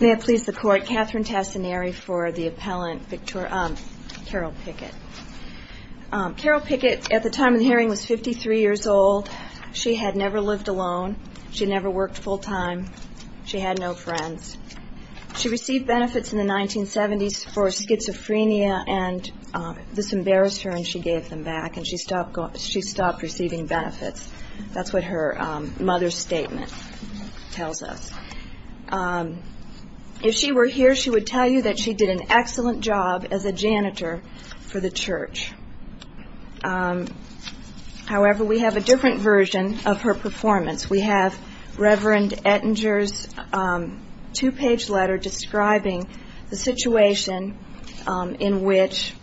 May it please the Court, Katherine Tassinari for the appellant, Carol Pickett. Carol Pickett, at the time of the hearing, was 53 years old. She had never lived alone. She had never worked full-time. She had no friends. She received benefits in the 1970s for schizophrenia, and this embarrassed her, and she gave them back, and she stopped receiving benefits. That's what her mother's statement tells us. If she were here, she would tell you that she did an excellent job as a janitor for the church. However, we have a different version of her performance. We have Rev. Ettinger's two-page letter describing the situation in which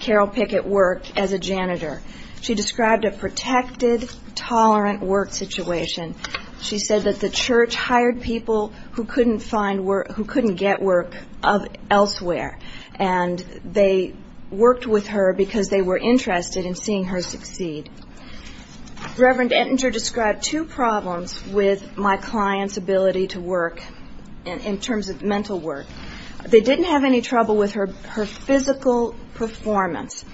Carol Pickett worked as a janitor. She described a protected, tolerant work situation. She said that the church hired people who couldn't find work, who couldn't get work elsewhere, and they worked with her because they were interested in seeing her succeed. Rev. Ettinger described two problems with my client's ability to work in terms of mental work. They didn't have any trouble with her physical performance.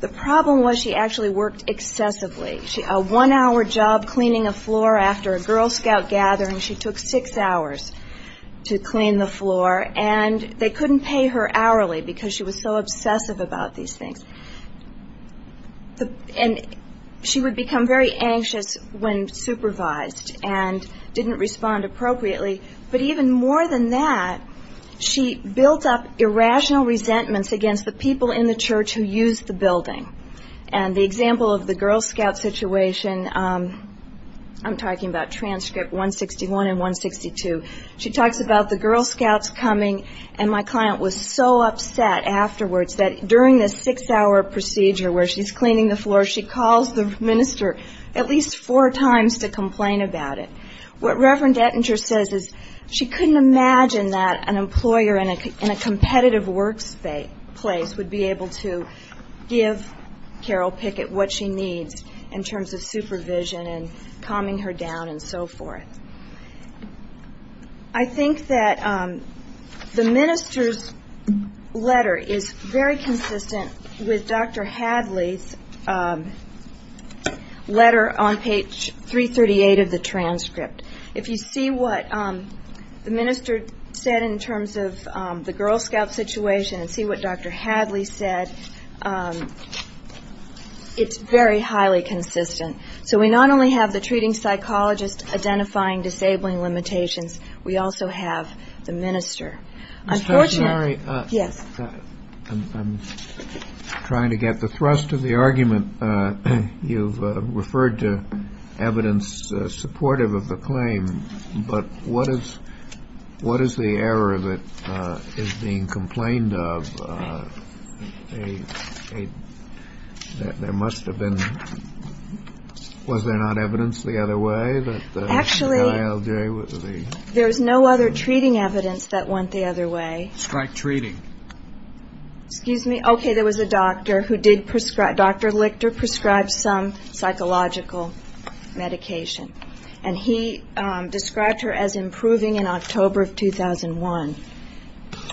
The problem was she actually worked excessively. A one-hour job cleaning a floor after a Girl Scout gathering, she took six hours to clean the floor, and they couldn't pay her hourly because she was so obsessive about these things. And she would become very anxious when supervised and didn't respond appropriately. But even more than that, she built up irrational resentments against the people in the church who used the building. And the example of the Girl Scout situation, I'm talking about transcript 161 and 162. She talks about the Girl Scouts coming, and my client was so upset afterwards that during this six-hour procedure where she's cleaning the floor, she calls the minister at least four times to complain about it. What Rev. Ettinger says is she couldn't imagine that an employer in a competitive workplace would be able to give Carol Pickett what she needs in terms of supervision and calming her down and so forth. I think that the minister's letter is very consistent with Dr. Hadley's letter on page 338 of the transcript. If you see what the minister said in terms of the Girl Scout situation and see what Dr. Hadley said, it's very highly consistent. So we not only have the treating psychologist identifying disabling limitations, we also have the minister. I'm trying to get the thrust of the argument. You've referred to evidence supportive of the claim, but what is the error that is being complained of? There must have been – was there not evidence the other way? Actually, there is no other treating evidence that went the other way. Strike treating. Excuse me. Okay, there was a doctor who did prescribe – Dr. Lichter prescribed some psychological medication, and he described her as improving in October of 2001.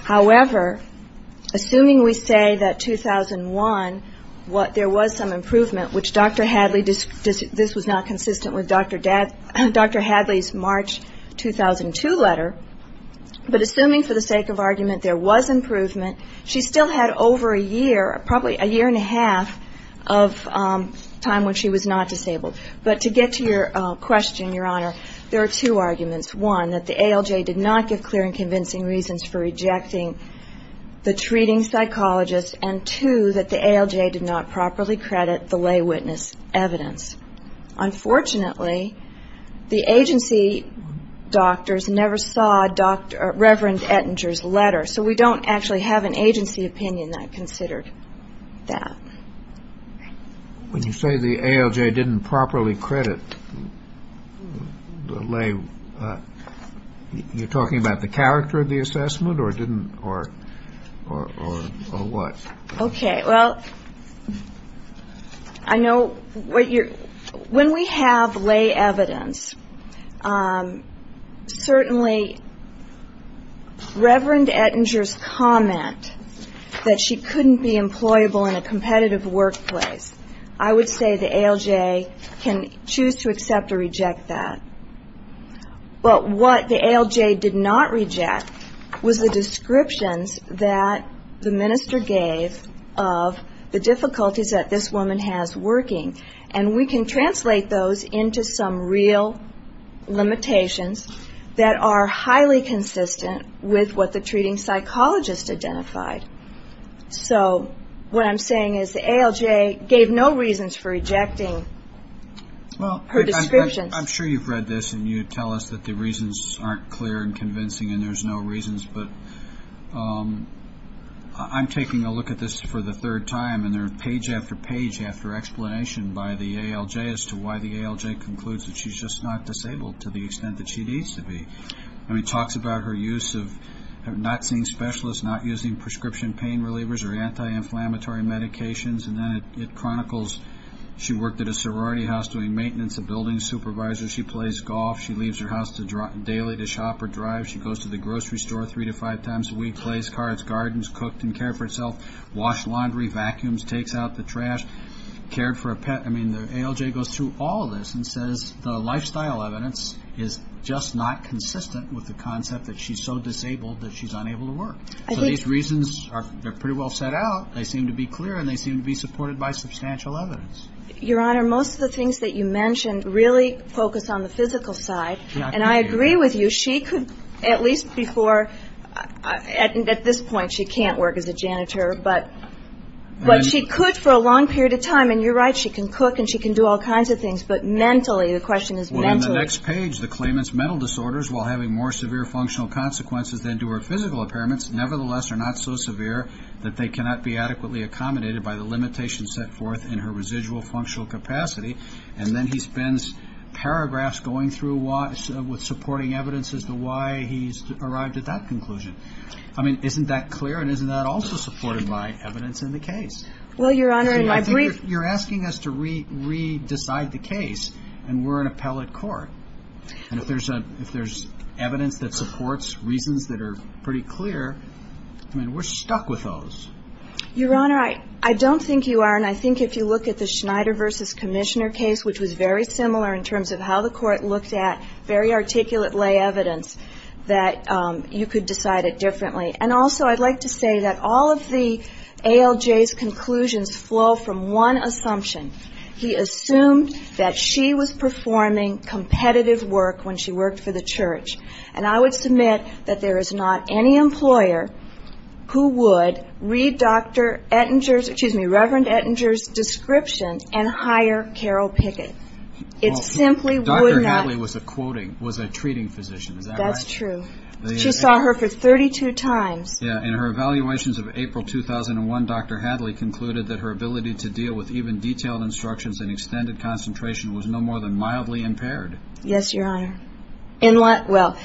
However, assuming we say that 2001, there was some improvement, which Dr. Hadley – this was not consistent with Dr. Hadley's March 2002 letter, but assuming for the sake of argument there was improvement, she still had over a year, probably a year and a half of time when she was not disabled. But to get to your question, Your Honor, there are two arguments. One, that the ALJ did not give clear and convincing reasons for rejecting the treating psychologist, and two, that the ALJ did not properly credit the lay witness evidence. Unfortunately, the agency doctors never saw Reverend Ettinger's letter, so we don't actually have an agency opinion that considered that. When you say the ALJ didn't properly credit the lay, you're talking about the character of the assessment or didn't or what? Okay. Well, I know what you're – when we have lay evidence, certainly Reverend Ettinger's comment that she couldn't be employable in a competitive workplace, I would say the ALJ can choose to accept or reject that. But what the ALJ did not reject was the descriptions that the minister gave of the difficulties that this woman has working, and we can translate those into some real limitations that are highly consistent with what the treating psychologist identified. So what I'm saying is the ALJ gave no reasons for rejecting her descriptions. Well, I'm sure you've read this and you tell us that the reasons aren't clear and convincing and there's no reasons, but I'm taking a look at this for the third time, and they're page after page after explanation by the ALJ as to why the ALJ concludes that she's just not disabled to the extent that she needs to be. I mean, it talks about her use of not seeing specialists, not using prescription pain relievers or anti-inflammatory medications, and then it chronicles she worked at a sorority house doing maintenance, a building supervisor. She plays golf, she leaves her house daily to shop or drive, she goes to the grocery store three to five times a week, plays cards, gardens, cooked and cared for herself, washed laundry, vacuums, takes out the trash, cared for a pet. I mean, the ALJ goes through all this and says the lifestyle evidence is just not consistent with the concept that she's so disabled that she's unable to work. So these reasons are pretty well set out, they seem to be clear, and they seem to be supported by substantial evidence. Your Honor, most of the things that you mentioned really focus on the physical side, and I agree with you. She could, at least before, at this point she can't work as a janitor, but she could for a long period of time, and you're right, she can cook and she can do all kinds of things, but mentally, the question is mentally. Well, in the next page, the claimant's mental disorders, while having more severe functional consequences than do her physical impairments, nevertheless are not so severe that they cannot be adequately accommodated by the limitations set forth in her residual functional capacity, and then he spends paragraphs going through with supporting evidence as to why he's arrived at that conclusion. I mean, isn't that clear, and isn't that also supported by evidence in the case? Well, Your Honor, in my brief You're asking us to re-decide the case, and we're an appellate court, and if there's evidence that supports reasons that are pretty clear, I mean, we're stuck with those. Your Honor, I don't think you are, and I think if you look at the Schneider v. Commissioner case, which was very similar in terms of how the court looked at very articulate lay evidence, that you could decide it differently, and also I'd like to say that all of the ALJ's conclusions flow from one assumption. He assumed that she was performing competitive work when she worked for the church, and I would submit that there is not any employer who would read Dr. Ettinger's, excuse me, Reverend Ettinger's description and hire Carol Pickett. It simply would not Dr. Hadley was a treating physician, is that right? That's true. She saw her for 32 times. Yeah, in her evaluations of April 2001, Dr. Hadley concluded that her ability to deal with even detailed instructions and extended concentration was no more than mildly impaired. Yes, Your Honor. In what? Well,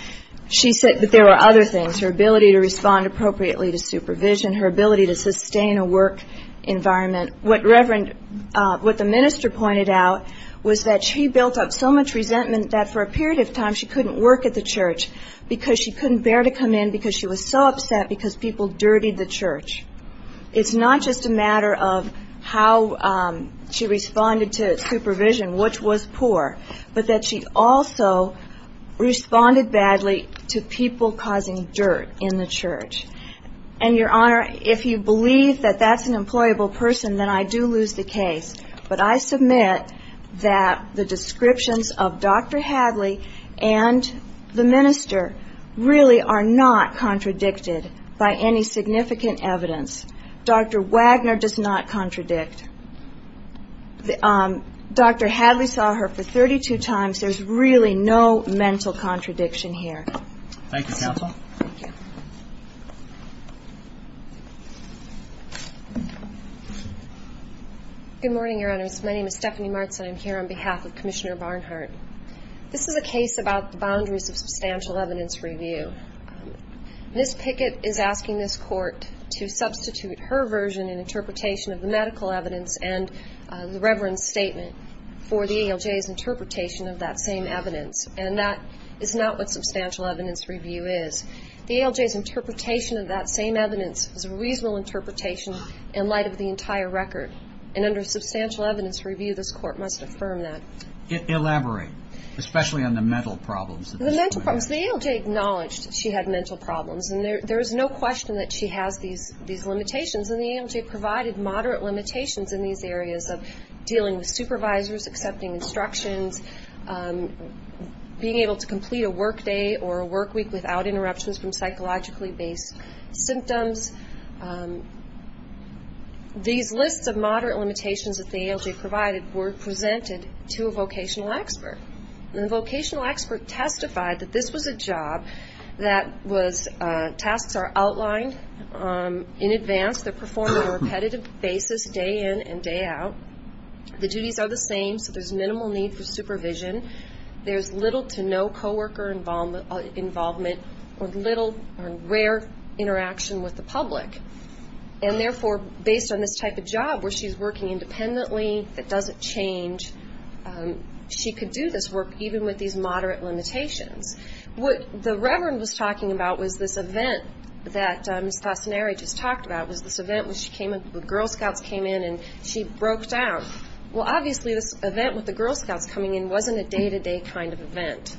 she said that there were other things, her ability to respond appropriately to supervision, her ability to sustain a work environment. What Reverend, what the minister pointed out was that she built up so much resentment that for a period of time she couldn't work at the church because she couldn't bear to come in because she was so upset because people dirtied the church. It's not just a matter of how she responded to supervision, which was poor, but that she also responded badly to people causing dirt in the church. And, Your Honor, if you believe that that's an employable person, then I do lose the case, but I submit that the descriptions of Dr. Hadley and the minister really are not contradicted by any significant evidence. Dr. Wagner does not contradict. Dr. Hadley saw her for 32 times. There's really no mental contradiction here. Thank you. Good morning, Your Honors. My name is Stephanie Martz and I'm here on behalf of Commissioner Barnhart. This is a case about the boundaries of substantial evidence review. Ms. Pickett is asking this Court to substitute her version and interpretation of the medical evidence and the Reverend's statement for the ALJ's interpretation of that same evidence, and that is not what substantial evidence review is. The ALJ's interpretation of that same evidence is a reasonable interpretation in light of the entire record, and under substantial evidence review, this Court must affirm that. Elaborate, especially on the mental problems. The mental problems. The ALJ acknowledged she had mental problems, and there is no question that she has these limitations, and the ALJ provided moderate limitations in these areas of dealing with supervisors, accepting instructions, being able to complete a work day or a work week without interruptions from psychologically based symptoms. These lists of moderate limitations that the ALJ provided were presented to a vocational expert, and the vocational expert testified that this was a job that tasks are outlined in advance. They're performed on a repetitive basis, day in and day out. The duties are the same, so there's minimal need for supervision. There's little to no co-worker involvement or little or rare interaction with the public, and therefore, based on this type of job where she's working independently, it doesn't change. She could do this work even with these moderate limitations. What the Reverend was talking about was this event that Ms. Tassinari just talked about, was this event when the Girl Scouts came in and she broke down. Well, obviously, this event with the Girl Scouts coming in wasn't a day-to-day kind of event.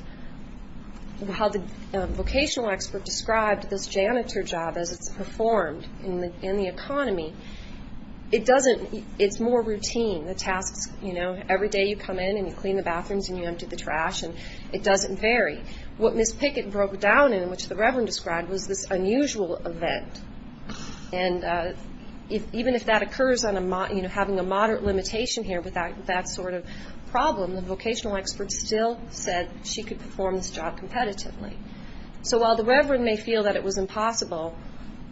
How the vocational expert described this janitor job as it's performed in the economy, it's more routine. The tasks, you know, every day you come in and you clean the bathrooms and you empty the trash, and it doesn't vary. What Ms. Pickett broke down in, which the Reverend described, was this unusual event. And even if that occurs on a, you know, having a moderate limitation here with that sort of problem, the vocational expert still said she could perform this job competitively. So while the Reverend may feel that it was impossible,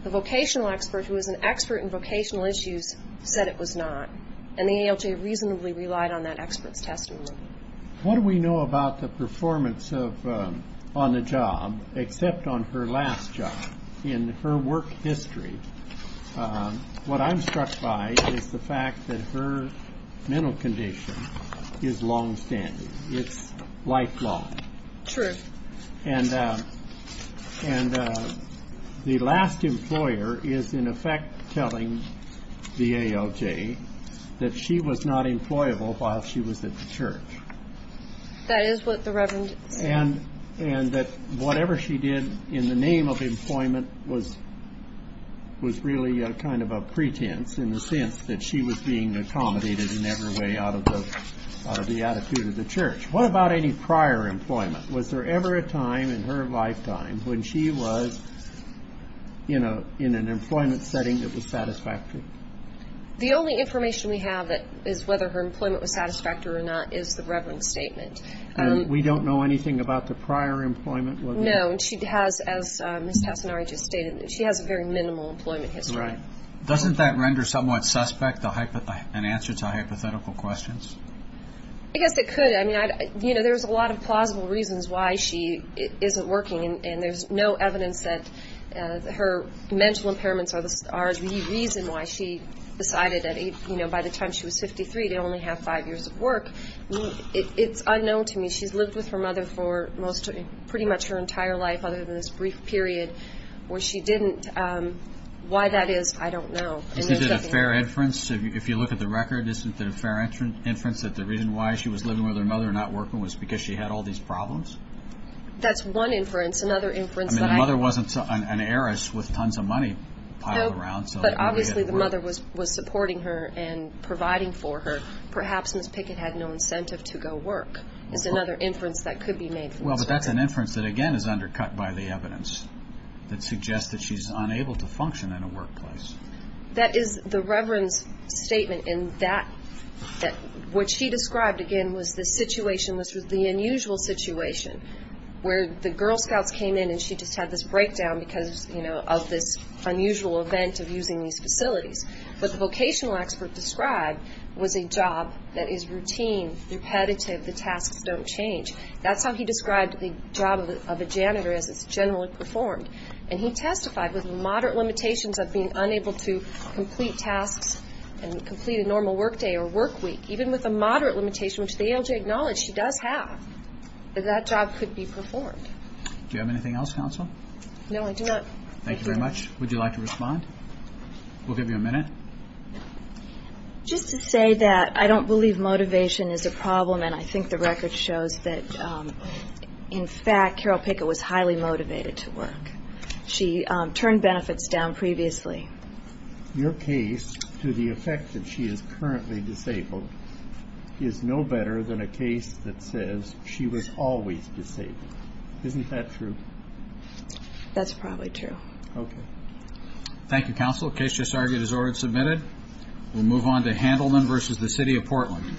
the vocational expert who was an expert in vocational issues said it was not, and the ALJ reasonably relied on that expert's testimony. So what do we know about the performance on the job except on her last job in her work history? What I'm struck by is the fact that her mental condition is longstanding. It's lifelong. True. And the last employer is in effect telling the ALJ that she was not employable while she was at the church. That is what the Reverend said. And that whatever she did in the name of employment was really kind of a pretense in the sense that she was being accommodated in every way out of the attitude of the church. What about any prior employment? Was there ever a time in her lifetime when she was, you know, in an employment setting that was satisfactory? The only information we have is whether her employment was satisfactory or not is the Reverend's statement. And we don't know anything about the prior employment? No. She has, as Ms. Tassinari just stated, she has a very minimal employment history. Right. Doesn't that render somewhat suspect an answer to hypothetical questions? I guess it could. I mean, you know, there's a lot of plausible reasons why she isn't working, and there's no evidence that her mental impairments are the reason why she decided, you know, by the time she was 53 to only have five years of work. It's unknown to me. She's lived with her mother for pretty much her entire life other than this brief period where she didn't. Why that is, I don't know. Isn't it a fair inference? If you look at the record, isn't it a fair inference that the reason why she was living with her mother and not working was because she had all these problems? That's one inference. Another inference that I... I mean, the mother wasn't an heiress with tons of money piled around. No, but obviously the mother was supporting her and providing for her. Perhaps Ms. Pickett had no incentive to go work is another inference that could be made from this record. Well, but that's an inference that, again, is undercut by the evidence that suggests that she's unable to function in a workplace. That is the Reverend's statement in that... What she described, again, was the situation was the unusual situation where the Girl Scouts came in and she just had this breakdown because, you know, of this unusual event of using these facilities. What the vocational expert described was a job that is routine, repetitive, the tasks don't change. That's how he described the job of a janitor as it's generally performed. And he testified with moderate limitations of being unable to complete tasks and complete a normal work day or work week, even with a moderate limitation, which the ALJ acknowledged she does have, that that job could be performed. Do you have anything else, Counsel? No, I do not. Thank you very much. Would you like to respond? We'll give you a minute. Just to say that I don't believe motivation is a problem, and I think the record shows that, in fact, Carol Pickett was highly motivated to work. She turned benefits down previously. Your case, to the effect that she is currently disabled, is no better than a case that says she was always disabled. Isn't that true? That's probably true. Okay. Thank you, Counsel. The case just argued as ordered and submitted. We'll move on to Handelman v. The City of Portland.